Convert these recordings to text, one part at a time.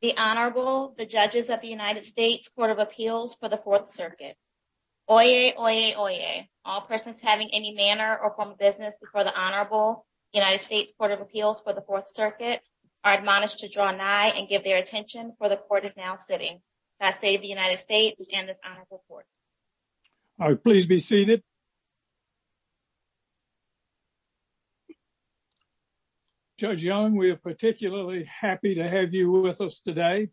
The Honorable, the Judges of the United States Court of Appeals for the Fourth Circuit. Oyez, oyez, oyez. All persons having any manner or form of business before the Honorable United States Court of Appeals for the Fourth Circuit are admonished to draw nigh and give their attention, for the Court is now sitting. God save the United States and this Honorable Court. All right, please be seated. Judge Young, we are particularly happy to have you with us today.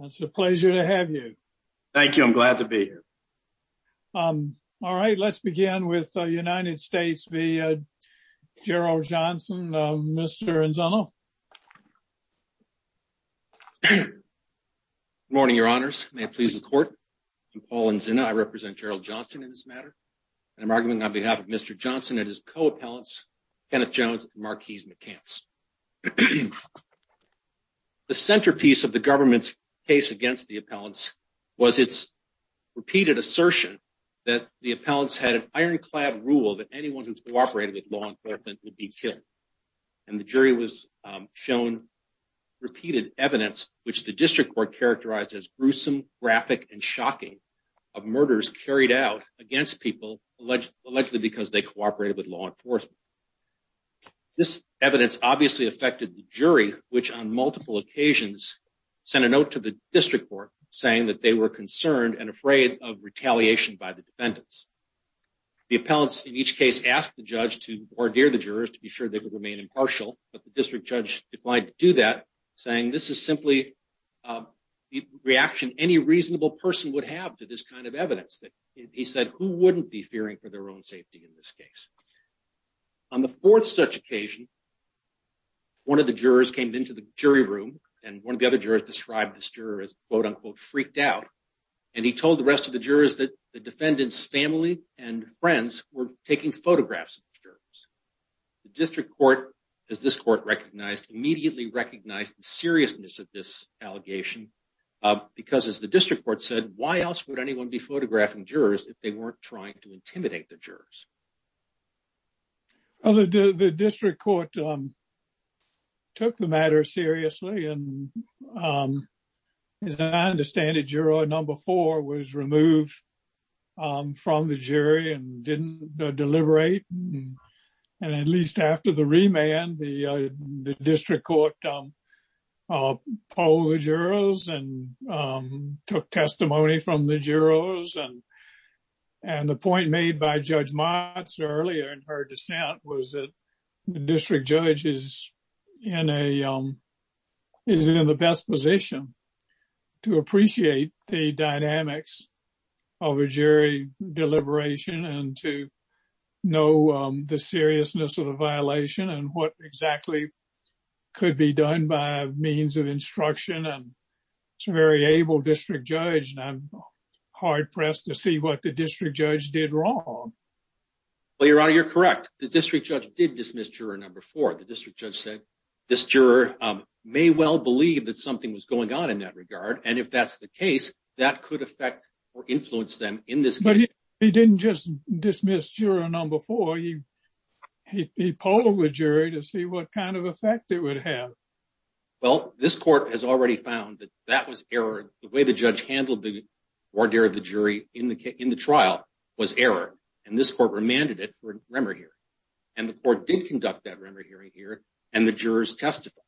It's a pleasure to have you. Thank you, I'm glad to be here. All right, let's begin with the United States v. Gerald Johnson. Mr. Anzano. Good morning, Your Honors. May it please the Court. I'm Paul Anzano. I represent Gerald Johnson in this matter. And I'm arguing on behalf of Mr. Johnson and his co-appellants, Kenneth Jones and Marquise McCants. The centerpiece of the government's case against the appellants was its repeated assertion that the appellants had an ironclad rule that anyone who cooperated with law enforcement would be killed. And the jury was shown repeated evidence, which the district court characterized as gruesome, graphic, and shocking, of murders carried out against people allegedly because they cooperated with law enforcement. This evidence obviously affected the jury, which on multiple occasions sent a note to the district court saying that they were concerned and afraid of retaliation by the defendants. The appellants in each case asked the judge to ordeer the jurors to be sure they would remain impartial, but the district judge declined to do that, saying this is simply the reaction any reasonable person would have to this kind of evidence. He said, who wouldn't be fearing for their own safety in this case? On the fourth such occasion, one of the jurors came into the jury room, and one of the other jurors described this juror as, quote, unquote, freaked out. And he told the rest of the jurors that the defendant's family and friends were taking photographs of the jurors. The district court, as this court recognized, immediately recognized the seriousness of this allegation, because, as the district court said, why else would anyone be photographing jurors if they weren't trying to intimidate the jurors? The district court took the matter seriously, and as I understand it, juror number four was removed from the jury and didn't deliberate. And at least after the remand, the district court polled the jurors and took testimony from the jurors. And the point made by Judge Motz earlier in her dissent was that the district judge is in the best position to appreciate the dynamics of a jury deliberation and to know the seriousness of the violation and what exactly could be done by means of instruction. And it's a very able district judge, and I'm hard-pressed to see what the district judge did wrong. Well, Your Honor, you're correct. The district judge did dismiss juror number four. The district judge said this juror may well believe that something was going on in that regard. And if that's the case, that could affect or influence them in this case. But he didn't just dismiss juror number four. He polled the jury to see what kind of effect it would have. Well, this court has already found that that was error. The way the judge handled the voir dire of the jury in the trial was error, and this court remanded it for a remand hearing. And the court did conduct that remand hearing here, and the jurors testified.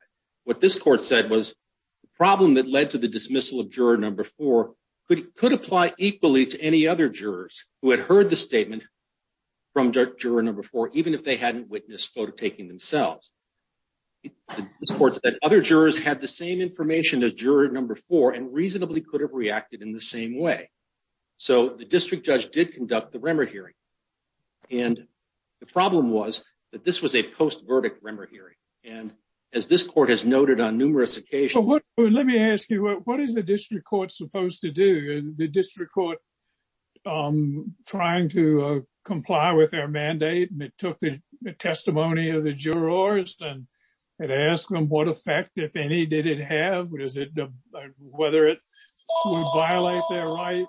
What this court said was the problem that led to the dismissal of juror number four could apply equally to any other jurors who had heard the statement from juror number four, even if they hadn't witnessed photo taking themselves. This court said other jurors had the same information as juror number four and reasonably could have reacted in the same way. So the district judge did conduct the remand hearing. And the problem was that this was a post-verdict remand hearing. And as this court has noted on numerous occasions. Let me ask you, what is the district court supposed to do? The district court trying to comply with our mandate and it took the testimony of the jurors and asked them what effect, if any, did it have? Whether it would violate their right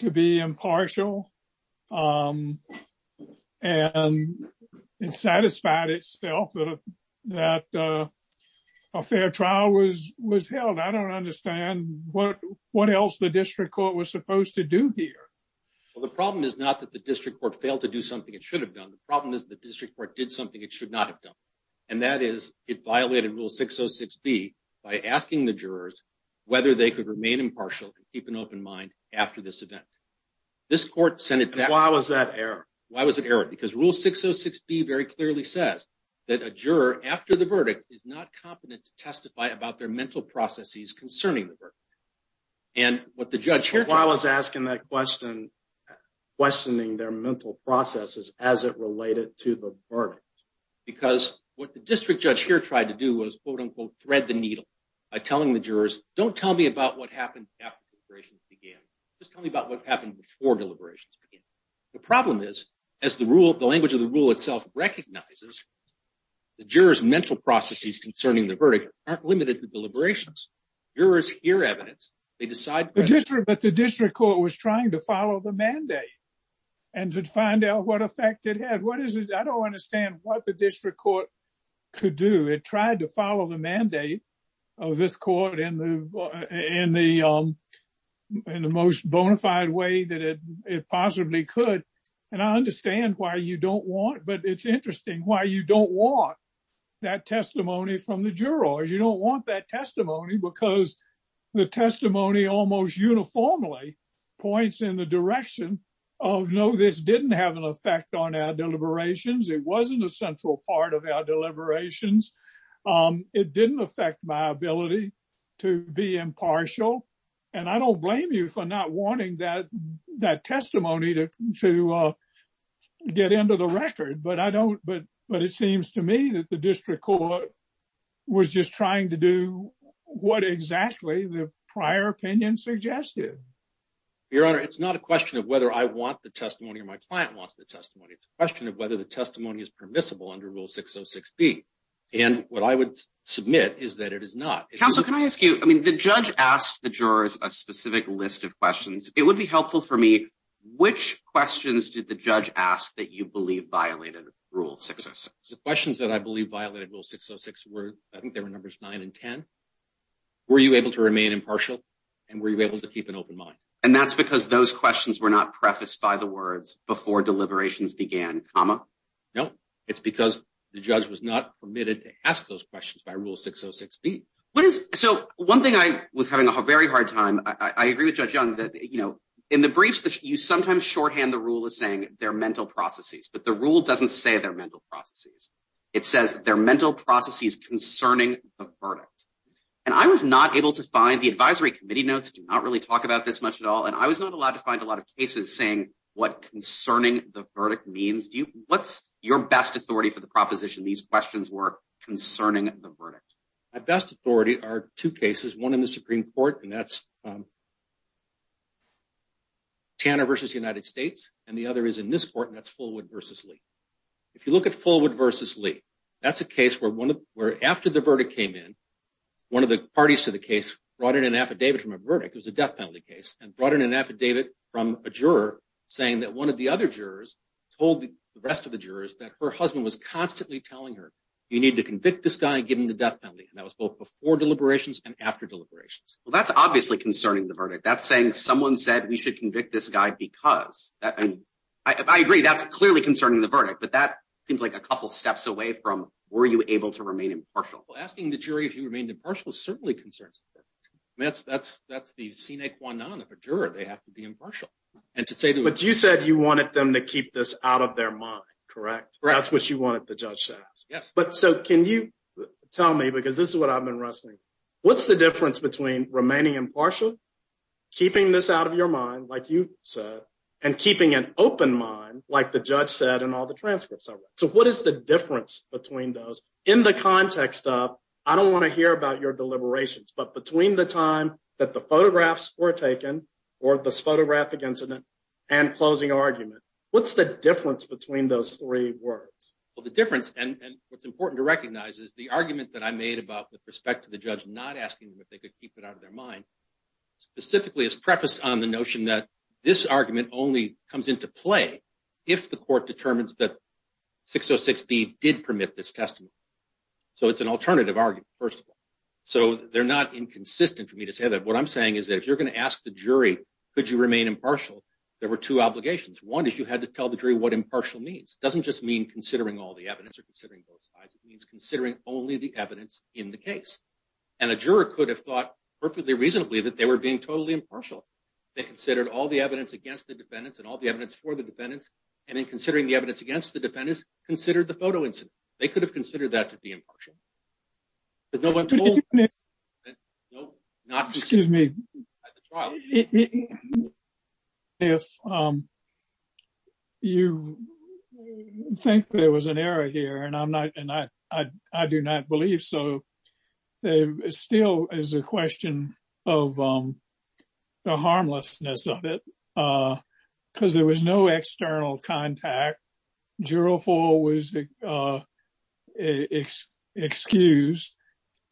to be impartial and satisfied itself that a fair trial was held. I don't understand what else the district court was supposed to do here. Well, the problem is not that the district court failed to do something it should have done. The problem is the district court did something it should not have done. And that is it violated rule 606B by asking the jurors whether they could remain impartial and keep an open mind after this event. Why was that error? Why was it error? Because rule 606B very clearly says that a juror after the verdict is not competent to testify about their mental processes concerning the verdict. Why was asking that question questioning their mental processes as it related to the verdict? Because what the district judge here tried to do was quote-unquote thread the needle by telling the jurors, don't tell me about what happened after deliberations began. Just tell me about what happened before deliberations began. The problem is, as the language of the rule itself recognizes, the jurors' mental processes concerning the verdict aren't limited to deliberations. Jurors hear evidence. They decide. But the district court was trying to follow the mandate and to find out what effect it had. What is it? I don't understand what the district court could do. It tried to follow the mandate of this court in the most bona fide way that it possibly could. And I understand why you don't want, but it's interesting why you don't want that testimony from the jurors. You don't want that testimony because the testimony almost uniformly points in the direction of, no, this didn't have an effect on our deliberations. It wasn't a central part of our deliberations. It didn't affect my ability to be impartial. And I don't blame you for not wanting that testimony to get into the record. But I don't. But it seems to me that the district court was just trying to do what exactly the prior opinion suggested. Your Honor, it's not a question of whether I want the testimony or my client wants the testimony. It's a question of whether the testimony is permissible under Rule 606B. And what I would submit is that it is not. Counsel, can I ask you, I mean, the judge asked the jurors a specific list of questions. It would be helpful for me. Which questions did the judge ask that you believe violated Rule 606? The questions that I believe violated Rule 606 were, I think there were numbers nine and ten. Were you able to remain impartial and were you able to keep an open mind? And that's because those questions were not prefaced by the words before deliberations began, comma? No, it's because the judge was not permitted to ask those questions by Rule 606B. So one thing I was having a very hard time, I agree with Judge Young that, you know, in the briefs, you sometimes shorthand the rule as saying they're mental processes, but the rule doesn't say they're mental processes. It says they're mental processes concerning the verdict. And I was not able to find the advisory committee notes do not really talk about this much at all. And I was not allowed to find a lot of cases saying what concerning the verdict means. What's your best authority for the proposition these questions were concerning the verdict? My best authority are two cases, one in the Supreme Court, and that's Tanner v. United States, and the other is in this court, and that's Fullwood v. Lee. If you look at Fullwood v. Lee, that's a case where after the verdict came in, one of the parties to the case brought in an affidavit from a verdict, it was a death penalty case, and brought in an affidavit from a juror saying that one of the other jurors told the rest of the jurors that her husband was constantly telling her, you need to convict this guy and give him the death penalty. And that was both before deliberations and after deliberations. Well, that's obviously concerning the verdict. That's saying someone said we should convict this guy because. I agree, that's clearly concerning the verdict, but that seems like a couple steps away from, were you able to remain impartial? Well, asking the jury if you remained impartial certainly concerns them. That's the sine qua non of a juror, they have to be impartial. But you said you wanted them to keep this out of their mind, correct? Correct. That's what you wanted the judge to ask. Yes. So can you tell me, because this is what I've been wrestling, what's the difference between remaining impartial, keeping this out of your mind, like you said, and keeping an open mind, like the judge said in all the transcripts I read? So what is the difference between those in the context of, I don't want to hear about your deliberations, but between the time that the photographs were taken, or this photographic incident, and closing argument, what's the difference between those three words? Well, the difference, and what's important to recognize is the argument that I made about with respect to the judge not asking them if they could keep it out of their mind, specifically is prefaced on the notion that this argument only comes into play if the court determines that 606B did permit this testimony. So it's an alternative argument, first of all. So they're not inconsistent for me to say that. What I'm saying is that if you're going to ask the jury could you remain impartial, there were two obligations. One is you had to tell the jury what impartial means. It doesn't just mean considering all the evidence or considering both sides. It means considering only the evidence in the case. And a juror could have thought perfectly reasonably that they were being totally impartial. They considered all the evidence against the defendants and all the evidence for the defendants, and in considering the evidence against the defendants, considered the photo incident. They could have considered that to be impartial. But no one told them. Excuse me. If you think there was an error here, and I do not believe so, it still is a question of the harmlessness of it. Because there was no external contact. The jury was excused.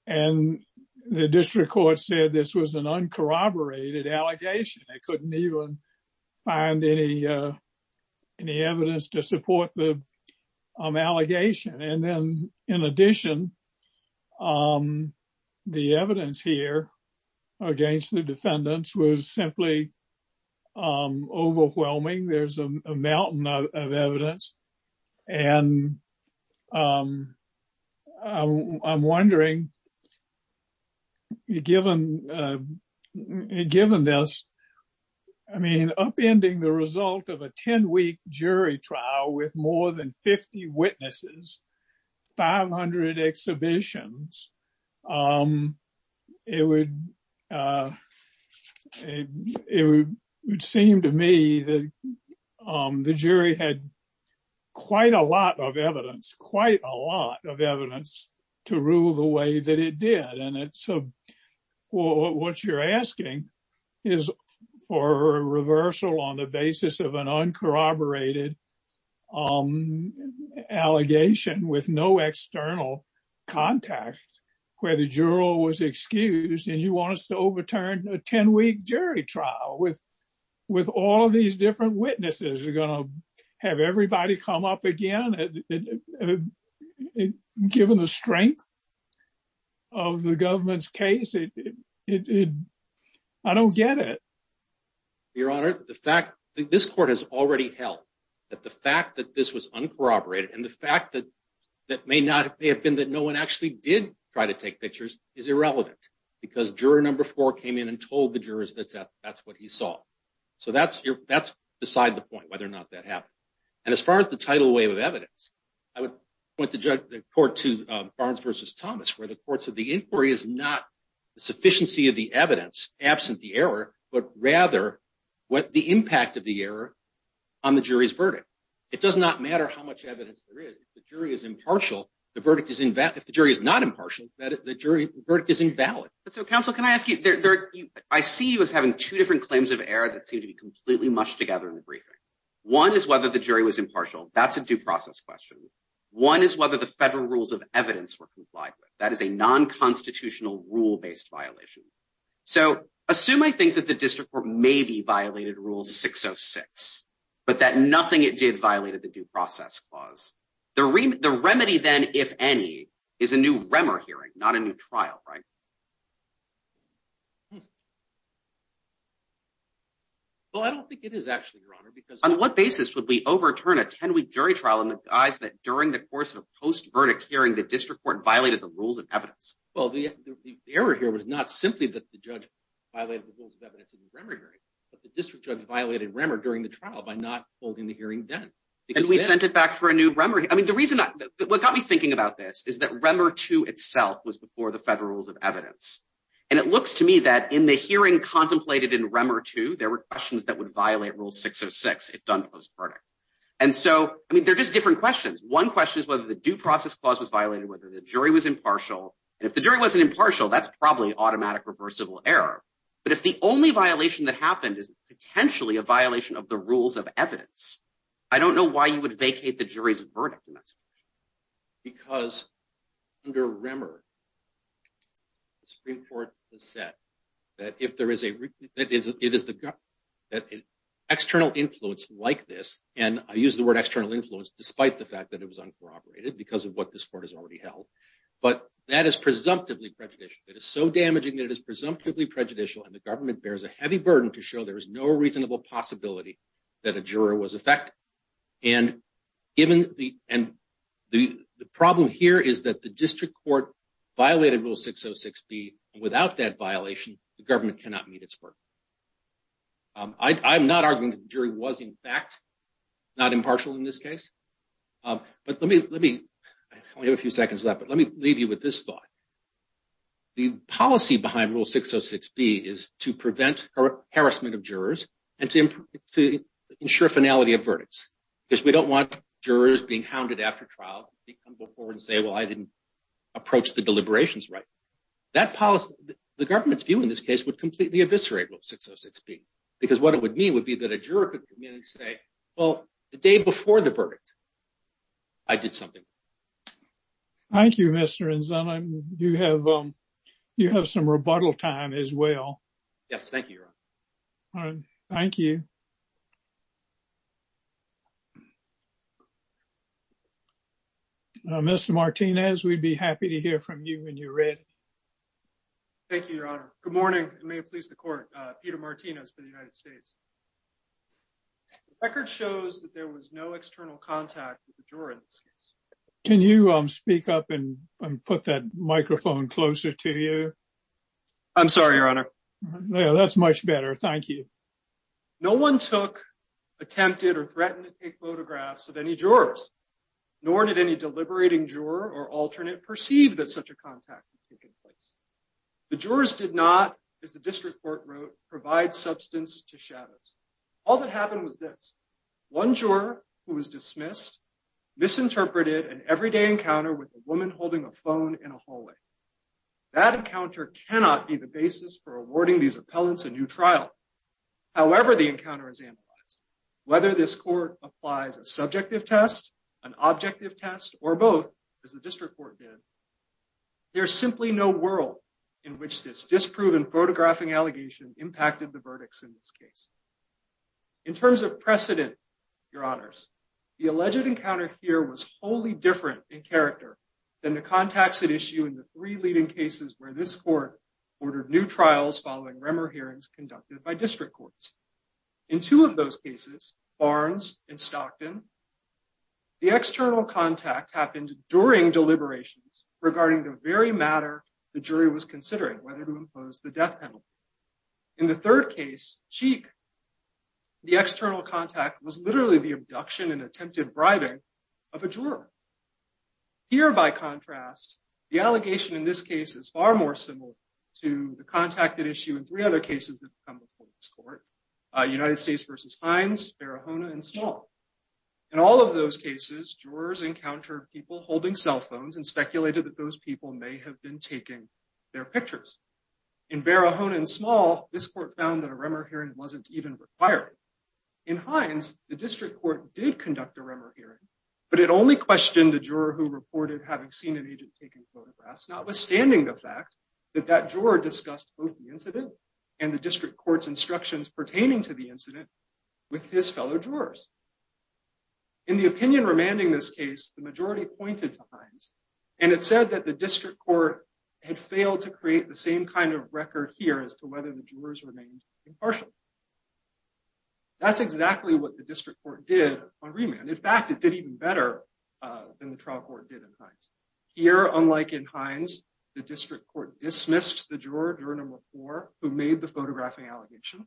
And the district court said this was an uncorroborated allegation. They couldn't even find any evidence to support the allegation. And then, in addition, the evidence here against the defendants was simply overwhelming. There's a mountain of evidence. And I'm wondering, given this, I mean, upending the result of a 10-week jury trial with more than 50 witnesses, 500 exhibitions, it would seem to me that the jury had quite a lot of evidence, quite a lot of evidence to rule the way that it did. What you're asking is for a reversal on the basis of an uncorroborated allegation with no external contact where the juror was excused, and you want us to overturn a 10-week jury trial with all of these different witnesses? You're going to have everybody come up again? Given the strength of the government's case, I don't get it. Your Honor, the fact that this court has already held that the fact that this was uncorroborated and the fact that it may not have been that no one actually did try to take pictures is irrelevant, because juror number four came in and told the jurors that that's what he saw. So that's beside the point, whether or not that happened. And as far as the tidal wave of evidence, I would point the court to Barnes v. Thomas, where the court said the inquiry is not the sufficiency of the evidence absent the error, but rather the impact of the error on the jury's verdict. It does not matter how much evidence there is. If the jury is impartial, the verdict is invalid. If the jury is not impartial, the verdict is invalid. But so, counsel, can I ask you, I see you as having two different claims of error that seem to be completely mushed together in the briefing. One is whether the jury was impartial. That's a due process question. One is whether the federal rules of evidence were complied with. That is a nonconstitutional rule-based violation. So assume I think that the district court maybe violated Rule 606, but that nothing it did violated the due process clause. The remedy, then, if any, is a new REMER hearing, not a new trial, right? Well, I don't think it is actually, Your Honor, because... On what basis would we overturn a 10-week jury trial in the guise that during the course of a post-verdict hearing, the district court violated the rules of evidence? Well, the error here was not simply that the judge violated the rules of evidence in the REMER hearing, but the district judge violated REMER during the trial by not holding the hearing done. And we sent it back for a new REMER. I mean, the reason, what got me thinking about this is that REMER 2 itself was before the federal rules of evidence. And it looks to me that in the hearing contemplated in REMER 2, there were questions that would violate Rule 606 if done post-verdict. And so, I mean, they're just different questions. One question is whether the due process clause was violated, whether the jury was impartial. And if the jury wasn't impartial, that's probably automatic reversible error. But if the only violation that happened is potentially a violation of the rules of evidence, I don't know why you would vacate the jury's verdict in that situation. Because under REMER, the Supreme Court has said that if there is an external influence like this, and I use the word external influence despite the fact that it was uncorroborated because of what this court has already held, but that is presumptively prejudicial. It is so damaging that it is presumptively prejudicial, and the government bears a heavy burden to show there is no reasonable possibility that a juror was effective. And the problem here is that the district court violated Rule 606B. Without that violation, the government cannot meet its verdict. I'm not arguing that the jury was, in fact, not impartial in this case. But let me – I only have a few seconds left, but let me leave you with this thought. The policy behind Rule 606B is to prevent harassment of jurors and to ensure finality of verdicts. Because we don't want jurors being hounded after trial. They come before and say, well, I didn't approach the deliberations right. That policy – the government's view in this case would completely eviscerate Rule 606B. Because what it would mean would be that a juror could come in and say, well, the day before the verdict, I did something. Thank you, Mr. Anzana. You have some rebuttal time as well. Yes, thank you, Your Honor. Thank you. Mr. Martinez, we'd be happy to hear from you when you're ready. Thank you, Your Honor. Good morning, and may it please the Court. Peter Martinez for the United States. The record shows that there was no external contact with the juror in this case. Can you speak up and put that microphone closer to you? I'm sorry, Your Honor. No, that's much better. Thank you. No one took, attempted, or threatened to take photographs of any jurors. Nor did any deliberating juror or alternate perceive that such a contact had taken place. The jurors did not, as the district court wrote, provide substance to shadows. All that happened was this. One juror who was dismissed misinterpreted an everyday encounter with a woman holding a phone in a hallway. That encounter cannot be the basis for awarding these appellants a new trial. However, the encounter is analyzed. Whether this court applies a subjective test, an objective test, or both, as the district court did, there is simply no world in which this disproven photographing allegation impacted the verdicts in this case. In terms of precedent, Your Honors, the alleged encounter here was wholly different in character than the contacts at issue in the three leading cases where this court ordered new trials following rumor hearings conducted by district courts. In two of those cases, Barnes and Stockton, the external contact happened during deliberations regarding the very matter the jury was considering, whether to impose the death penalty. In the third case, Cheek, the external contact was literally the abduction and attempted bribing of a juror. Here, by contrast, the allegation in this case is far more similar to the contact at issue in three other cases that have come before this court, United States v. Hines, Barahona, and Small. In all of those cases, jurors encountered people holding cell phones and speculated that those people may have been taking their pictures. In Barahona and Small, this court found that a rumor hearing wasn't even required. In Hines, the district court did conduct a rumor hearing, but it only questioned the juror who reported having seen an agent taking photographs, notwithstanding the fact that that juror discussed both the incident and the district court's instructions pertaining to the incident with his fellow jurors. In the opinion remanding this case, the majority pointed to Hines, and it said that the district court had failed to create the same kind of record here as to whether the jurors remained impartial. That's exactly what the district court did on remand. In fact, it did even better than the trial court did in Hines. Here, unlike in Hines, the district court dismissed the juror during a rapport who made the photographing allegation.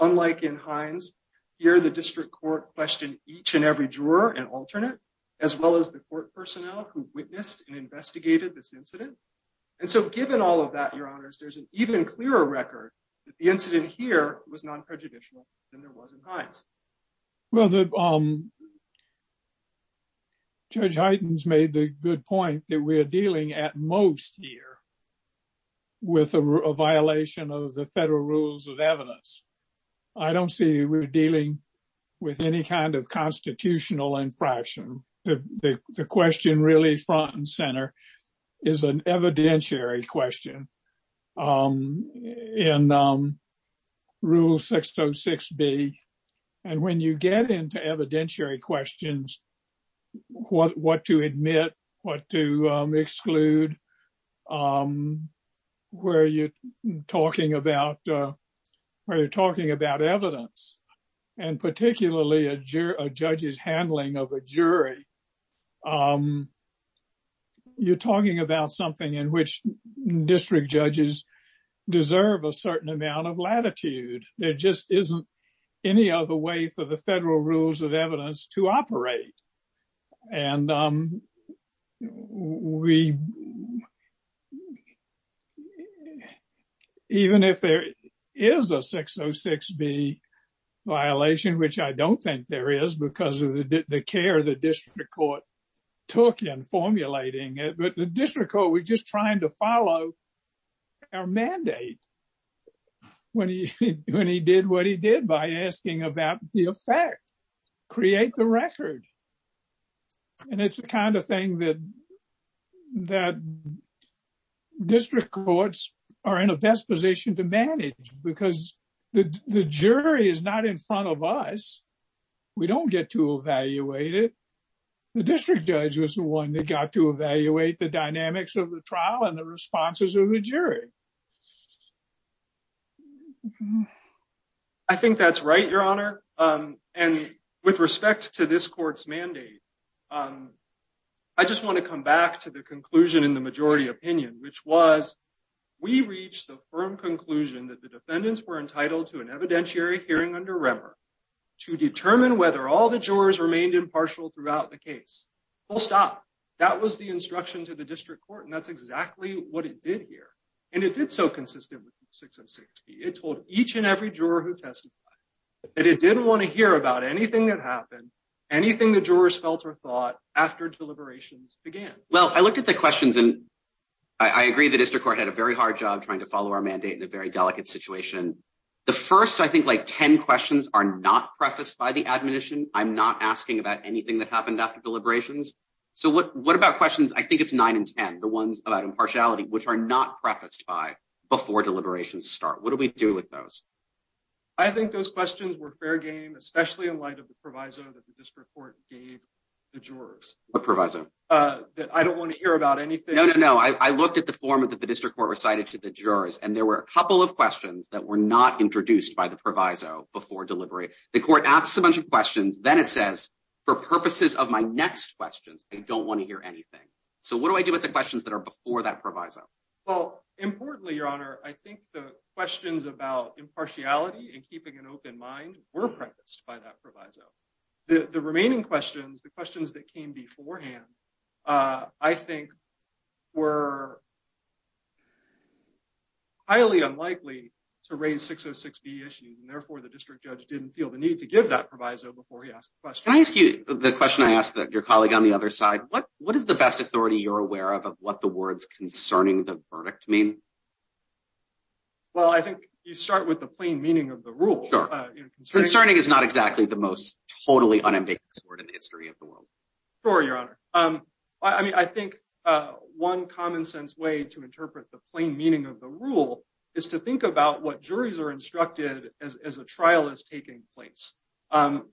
Unlike in Hines, here the district court questioned each and every juror and alternate, as well as the court personnel who witnessed and investigated this incident. And so given all of that, your honors, there's an even clearer record that the incident here was non-prejudicial than there was in Hines. Well, Judge Hytens made the good point that we are dealing at most here with a violation of the federal rules of evidence. I don't see we're dealing with any kind of constitutional infraction. The question really front and center is an evidentiary question in Rule 606B. And when you get into evidentiary questions, what to admit, what to exclude, where you're talking about evidence, and particularly a judge's handling of a jury, you're talking about something in which district judges deserve a certain amount of latitude. There just isn't any other way for the federal rules of evidence to operate. And even if there is a 606B violation, which I don't think there is because of the care the district court took in formulating it, but the district court was just trying to follow our mandate when he did what he did by asking about the effect, create the record. And it's the kind of thing that district courts are in a best position to manage because the jury is not in front of us. We don't get to evaluate it. The district judge was the one that got to evaluate the dynamics of the trial and the responses of the jury. I think that's right, Your Honor. And with respect to this court's mandate, I just want to come back to the conclusion in the majority opinion, which was we reached the firm conclusion that the defendants were entitled to an evidentiary hearing under Remmer to determine whether all the jurors remained impartial throughout the case. Full stop. That was the instruction to the district court, and that's exactly what it did here. And it did so consistently with 606B. It told each and every juror who testified that it didn't want to hear about anything that happened, anything the jurors felt or thought after deliberations began. Well, I looked at the questions and I agree the district court had a very hard job trying to follow our mandate in a very delicate situation. The first, I think, like 10 questions are not prefaced by the admonition. I'm not asking about anything that happened after deliberations. So what about questions? I think it's nine and 10, the ones about impartiality, which are not prefaced by before deliberations start. What do we do with those? I think those questions were fair game, especially in light of the proviso that the district court gave the jurors. What proviso? That I don't want to hear about anything. No, no, no. I looked at the form that the district court recited to the jurors, and there were a couple of questions that were not introduced by the proviso before delivery. The court asked a bunch of questions. Then it says, for purposes of my next questions, I don't want to hear anything. So what do I do with the questions that are before that proviso? Well, importantly, Your Honor, I think the questions about impartiality and keeping an open mind were prefaced by that proviso. The remaining questions, the questions that came beforehand, I think, were highly unlikely to raise 606B issues. And therefore, the district judge didn't feel the need to give that proviso before he asked the question. Can I ask you the question I asked your colleague on the other side? What is the best authority you're aware of of what the words concerning the verdict mean? Well, I think you start with the plain meaning of the rule. Concerning is not exactly the most totally unambiguous word in the history of the world. Sure, Your Honor. I mean, I think one common sense way to interpret the plain meaning of the rule is to think about what juries are instructed as a trial is taking place.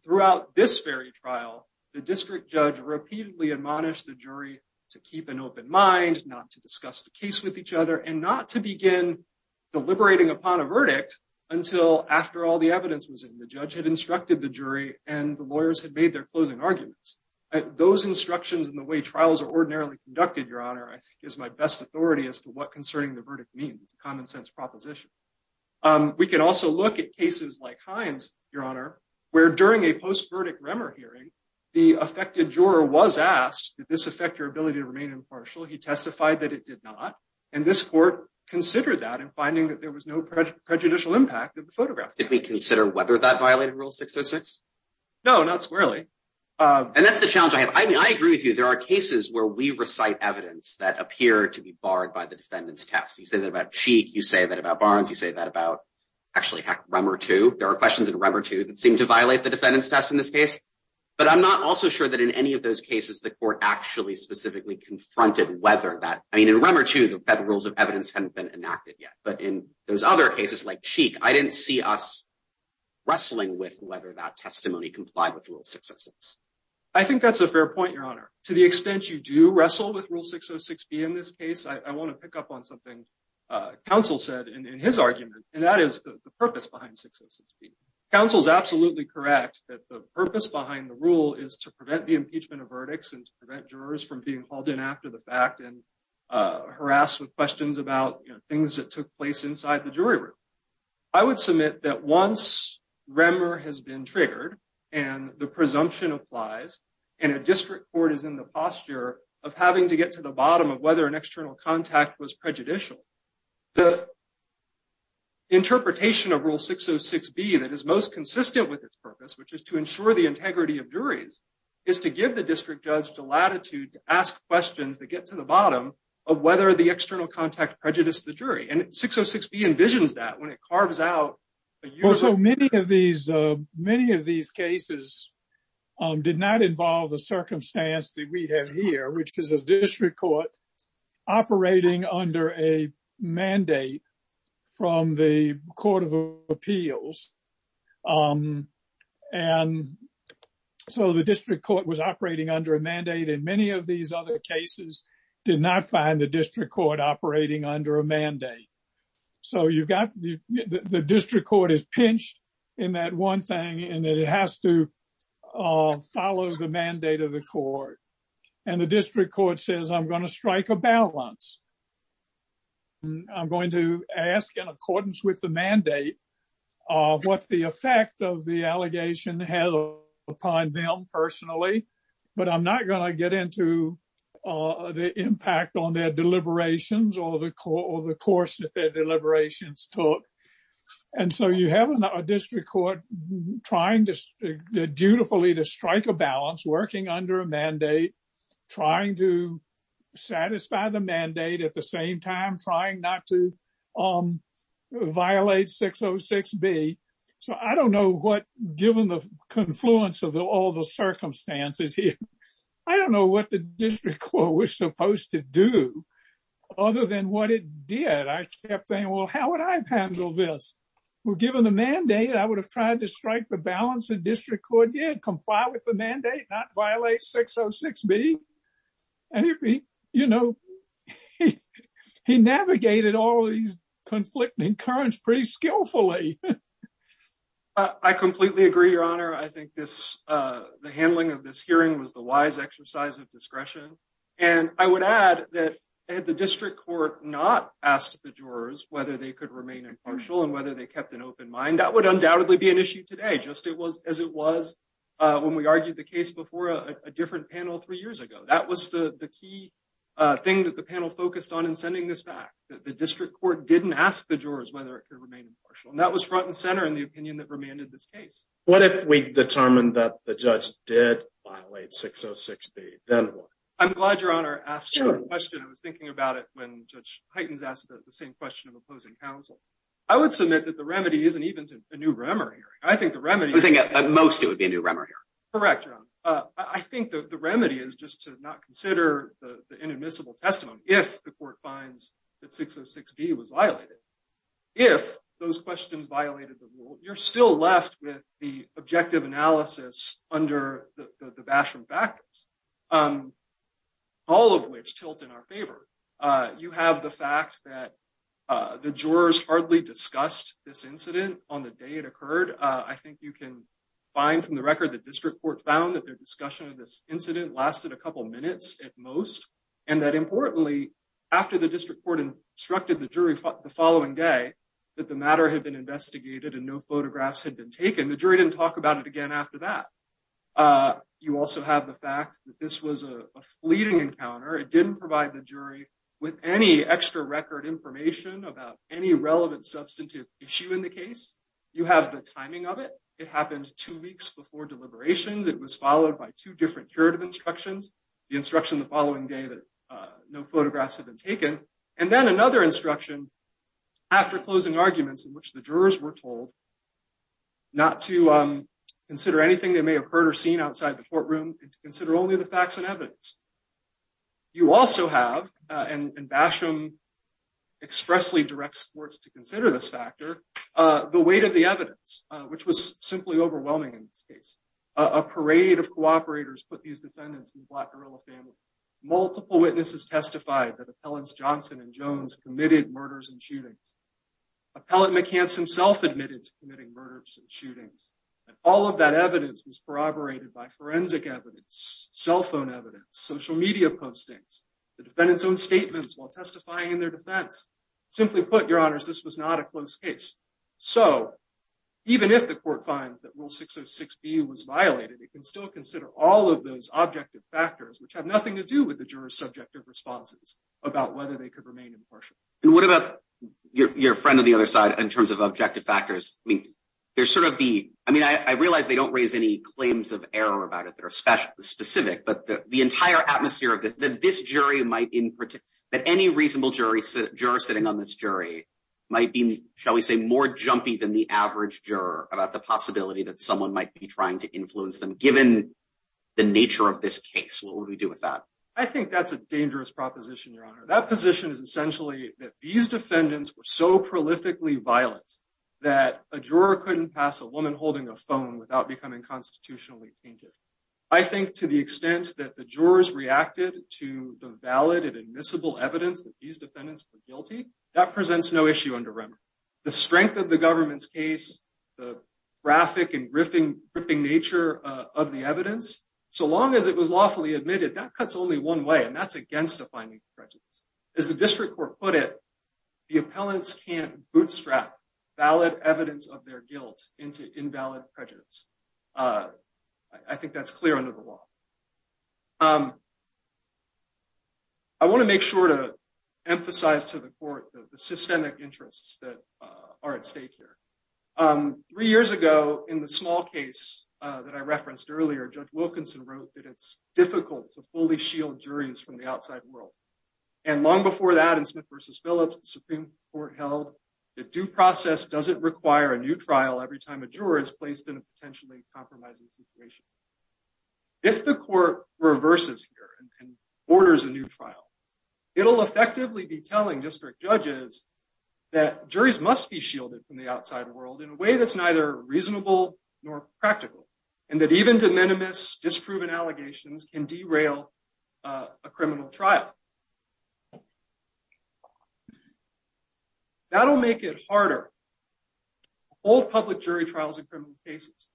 Throughout this very trial, the district judge repeatedly admonished the jury to keep an open mind, not to discuss the case with each other, and not to begin deliberating upon a verdict until after all the evidence was in. The judge had instructed the jury, and the lawyers had made their closing arguments. Those instructions and the way trials are ordinarily conducted, Your Honor, I think is my best authority as to what concerning the verdict means. It's a common sense proposition. We can also look at cases like Hines, Your Honor, where during a post-verdict REMER hearing, the affected juror was asked, did this affect your ability to remain impartial? He testified that it did not. And this court considered that in finding that there was no prejudicial impact of the photograph. Did we consider whether that violated Rule 606? No, not squarely. And that's the challenge I have. I mean, I agree with you. There are cases where we recite evidence that appear to be barred by the defendant's test. You say that about Cheek. You say that about Barnes. You say that about, actually, heck, REMER 2. There are questions in REMER 2 that seem to violate the defendant's test in this case. But I'm not also sure that in any of those cases the court actually specifically confronted whether that— I mean, in REMER 2, the federal rules of evidence hadn't been enacted yet. But in those other cases, like Cheek, I didn't see us wrestling with whether that testimony complied with Rule 606. I think that's a fair point, Your Honor. To the extent you do wrestle with Rule 606B in this case, I want to pick up on something counsel said in his argument. And that is the purpose behind 606B. Counsel is absolutely correct that the purpose behind the rule is to prevent the impeachment of verdicts and to prevent jurors from being called in after the fact and harassed with questions about things that took place inside the jury room. I would submit that once REMER has been triggered and the presumption applies and a district court is in the posture of having to get to the bottom of whether an external contact was prejudicial, the interpretation of Rule 606B that is most consistent with its purpose, which is to ensure the integrity of juries, is to give the district judge the latitude to ask questions that get to the bottom of whether the external contact prejudiced the jury. And 606B envisions that when it carves out. Many of these cases did not involve the circumstance that we have here, which is a district court operating under a mandate from the Court of Appeals. And so the district court was operating under a mandate. And many of these other cases did not find the district court operating under a mandate. So you've got the district court is pinched in that one thing and it has to follow the mandate of the court. And the district court says, I'm going to strike a balance. I'm going to ask in accordance with the mandate what the effect of the allegation has upon them personally. But I'm not going to get into the impact on their deliberations or the course deliberations took. And so you have a district court trying to dutifully to strike a balance, working under a mandate, trying to satisfy the mandate at the same time, trying not to violate 606B. So I don't know what, given the confluence of all the circumstances here, I don't know what the district court was supposed to do other than what it did. I kept saying, well, how would I handle this? Well, given the mandate, I would have tried to strike the balance. The district court did comply with the mandate, not violate 606B. And, you know, he navigated all these conflicting currents pretty skillfully. I completely agree, Your Honor. I think this the handling of this hearing was the wise exercise of discretion. And I would add that the district court not asked the jurors whether they could remain impartial and whether they kept an open mind. And that would undoubtedly be an issue today, just as it was when we argued the case before a different panel three years ago. That was the key thing that the panel focused on in sending this back, that the district court didn't ask the jurors whether it could remain impartial. And that was front and center in the opinion that remained in this case. What if we determined that the judge did violate 606B? Then what? I'm glad Your Honor asked the question. I was thinking about it when Judge Heitens asked the same question of opposing counsel. I would submit that the remedy isn't even a new Remmer hearing. I think the remedy. I think at most it would be a new Remmer hearing. Correct, Your Honor. I think the remedy is just to not consider the inadmissible testimony if the court finds that 606B was violated. If those questions violated the rule, you're still left with the objective analysis under the Basham factors, all of which tilt in our favor. You have the fact that the jurors hardly discussed this incident on the day it occurred. I think you can find from the record that district court found that their discussion of this incident lasted a couple of minutes at most. And that importantly, after the district court instructed the jury the following day that the matter had been investigated and no photographs had been taken, the jury didn't talk about it again after that. You also have the fact that this was a fleeting encounter. It didn't provide the jury with any extra record information about any relevant substantive issue in the case. You have the timing of it. It happened two weeks before deliberations. It was followed by two different curative instructions, the instruction the following day that no photographs had been taken, and then another instruction after closing arguments in which the jurors were told not to consider anything they may have heard or seen outside the courtroom, and to consider only the facts and evidence. You also have, and Basham expressly directs courts to consider this factor, the weight of the evidence, which was simply overwhelming in this case. A parade of cooperators put these defendants in the Black gorilla family. Multiple witnesses testified that Appellants Johnson and Jones committed murders and shootings. Appellant McCance himself admitted to committing murders and shootings, and all of that evidence was corroborated by forensic evidence, cell phone evidence, social media postings, the defendant's own statements while testifying in their defense. Simply put, Your Honors, this was not a close case. So even if the court finds that Rule 606B was violated, it can still consider all of those objective factors, which have nothing to do with the jurors' subjective responses about whether they could remain impartial. And what about your friend on the other side, in terms of objective factors? I mean, there's sort of the, I mean, I realize they don't raise any claims of error about it that are specific, but the entire atmosphere of this jury might, in particular, that any reasonable juror sitting on this jury might be, shall we say, more jumpy than the average juror about the possibility that someone might be trying to influence them, given the nature of this case. What would we do with that? I think that's a dangerous proposition, Your Honor. That position is essentially that these defendants were so prolifically violent that a juror couldn't pass a woman holding a phone without becoming constitutionally tainted. I think to the extent that the jurors reacted to the valid and admissible evidence that these defendants were guilty, that presents no issue under remedy. The strength of the government's case, the graphic and gripping nature of the evidence, so long as it was lawfully admitted, that cuts only one way, and that's against defining prejudice. As the district court put it, the appellants can't bootstrap valid evidence of their guilt into invalid prejudice. I think that's clear under the law. I want to make sure to emphasize to the court the systemic interests that are at stake here. Three years ago, in the small case that I referenced earlier, Judge Wilkinson wrote that it's difficult to fully shield juries from the outside world. And long before that, in Smith v. Phillips, the Supreme Court held that due process doesn't require a new trial every time a juror is placed in a potentially compromising situation. If the court reverses here and orders a new trial, it'll effectively be telling district judges that juries must be shielded from the outside world in a way that's neither reasonable nor practical, and that even de minimis disproven allegations can derail a criminal trial. That'll make it harder to hold public jury trials in criminal cases.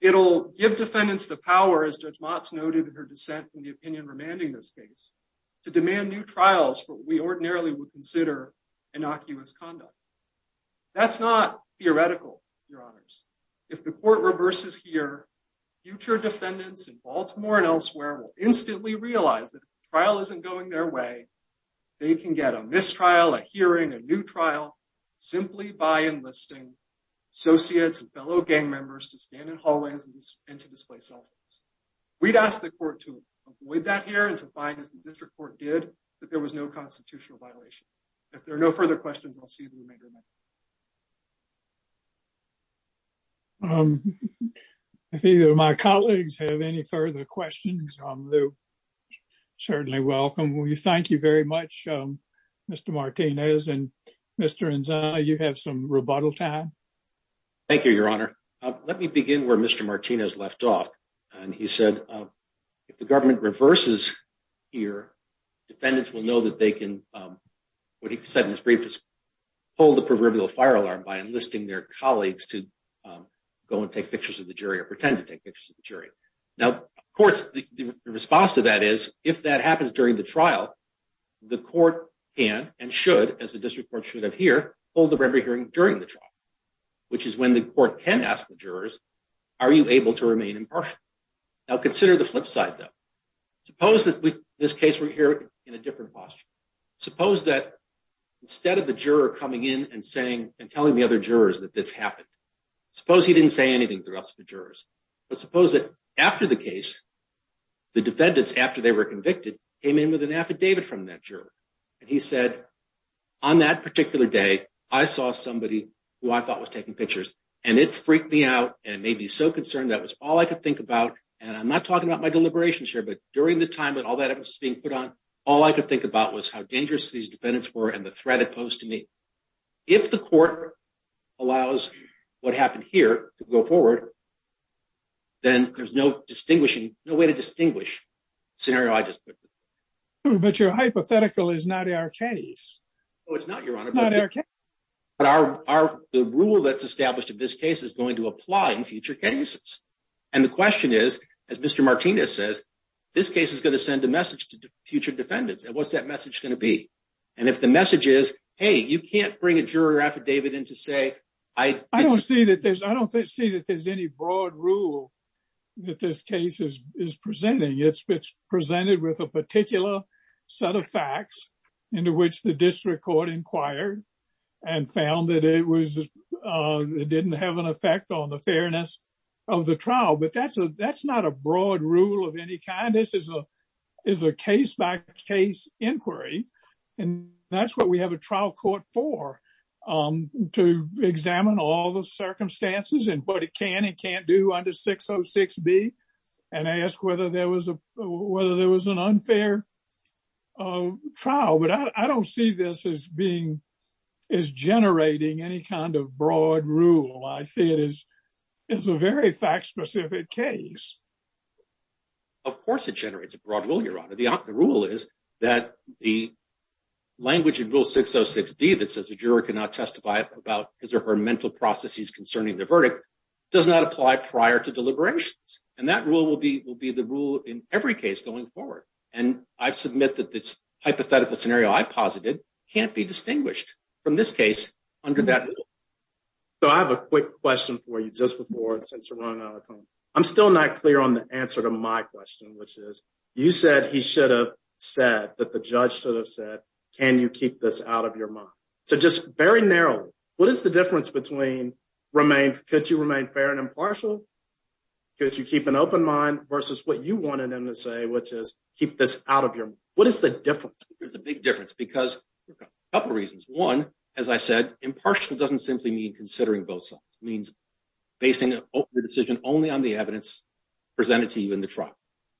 It'll give defendants the power, as Judge Motz noted in her dissent in the opinion remanding this case, to demand new trials for what we ordinarily would consider innocuous conduct. That's not theoretical, Your Honors. If the court reverses here, future defendants in Baltimore and elsewhere will instantly realize that if a trial isn't going their way, they can get a mistrial, a hearing, a new trial, simply by enlisting associates and fellow gang members to stand in hallways and to display cell phones. We'd ask the court to avoid that here and to find, as the district court did, that there was no constitutional violation. If there are no further questions, I'll see if we can make a motion. If either of my colleagues have any further questions, certainly welcome. Thank you very much, Mr. Martinez. And, Mr. Inza, you have some rebuttal time. Thank you, Your Honor. Let me begin where Mr. Martinez left off. He said if the government reverses here, defendants will know that they can, what he said in his brief, hold the proverbial fire alarm by enlisting their colleagues to go and take pictures of the jury or pretend to take pictures of the jury. Now, of course, the response to that is if that happens during the trial, the court can and should, as the district court should have here, hold the remedy hearing during the trial, which is when the court can ask the jurors, are you able to remain impartial? Now, consider the flip side, though. Suppose that in this case we're here in a different posture. Suppose that instead of the juror coming in and saying and telling the other jurors that this happened, suppose he didn't say anything to the rest of the jurors, but suppose that after the case, the defendants, after they were convicted, came in with an affidavit from that juror, and he said, on that particular day, I saw somebody who I thought was taking pictures, and it freaked me out and made me so concerned. That was all I could think about, and I'm not talking about my deliberations here, but during the time that all that evidence was being put on, all I could think about was how dangerous these defendants were and the threat it posed to me. If the court allows what happened here to go forward, then there's no way to distinguish the scenario I just put. But your hypothetical is not our case. No, it's not, Your Honor. Not our case. But the rule that's established in this case is going to apply in future cases, and the question is, as Mr. Martinez says, this case is going to send a message to future defendants, and what's that message going to be? And if the message is, hey, you can't bring a juror affidavit in to say I did something. I don't see that there's any broad rule that this case is presenting. It's presented with a particular set of facts into which the district court inquired and found that it didn't have an effect on the fairness of the trial. But that's not a broad rule of any kind. This is a case-by-case inquiry, and that's what we have a trial court for, to examine all the circumstances and what it can and can't do under 606B and ask whether there was an unfair trial. But I don't see this as generating any kind of broad rule. I see it as a very fact-specific case. Of course it generates a broad rule, Your Honor. The rule is that the language in Rule 606B that says the juror cannot testify about his or her mental processes concerning the verdict does not apply prior to deliberations. And that rule will be the rule in every case going forward. And I submit that this hypothetical scenario I posited can't be distinguished from this case under that rule. So I have a quick question for you just before and since we're running out of time. I'm still not clear on the answer to my question, which is you said he should have said, that the judge should have said, can you keep this out of your mind? So just very narrow, what is the difference between could you remain fair and impartial? Could you keep an open mind versus what you wanted him to say, which is keep this out of your mind? What is the difference? There's a big difference because a couple of reasons. One, as I said, impartial doesn't simply mean considering both sides. It means basing the decision only on the evidence presented to you in the trial.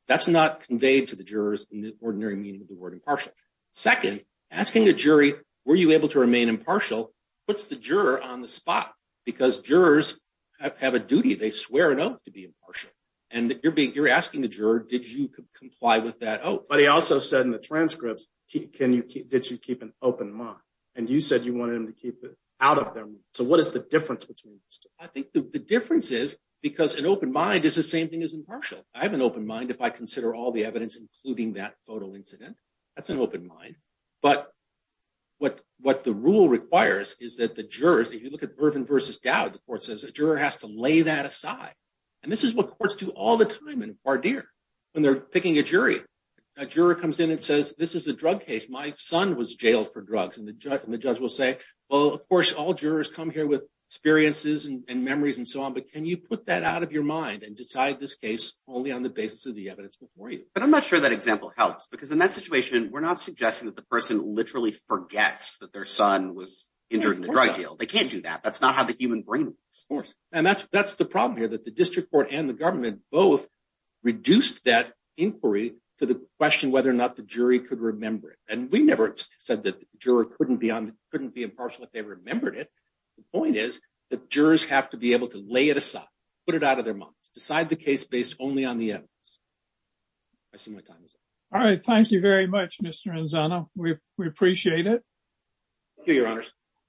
That's not conveyed to the jurors in the ordinary meaning of the word impartial. Second, asking the jury, were you able to remain impartial, puts the juror on the spot because jurors have a duty. They swear an oath to be impartial. And you're asking the juror, did you comply with that oath? But he also said in the transcripts, did you keep an open mind? And you said you wanted him to keep it out of their mind. So what is the difference between these two? I think the difference is because an open mind is the same thing as impartial. I have an open mind if I consider all the evidence, including that photo incident. That's an open mind. But what the rule requires is that the jurors, if you look at Vervin v. Dowd, the court says a juror has to lay that aside. And this is what courts do all the time in voir dire when they're picking a jury. A juror comes in and says, this is a drug case. My son was jailed for drugs. And the judge will say, well, of course, all jurors come here with experiences and memories and so on. But can you put that out of your mind and decide this case only on the basis of the evidence before you? But I'm not sure that example helps, because in that situation, we're not suggesting that the person literally forgets that their son was injured in a drug deal. They can't do that. That's not how the human brain works. And that's the problem here, that the district court and the government both reduced that inquiry to the question whether or not the jury could remember it. And we never said that the juror couldn't be impartial if they remembered it. The point is that jurors have to be able to lay it aside, put it out of their minds, decide the case based only on the evidence. I see my time is up. All right. Thank you very much, Mr. Anzano. We appreciate it. Thank you, Your Honors.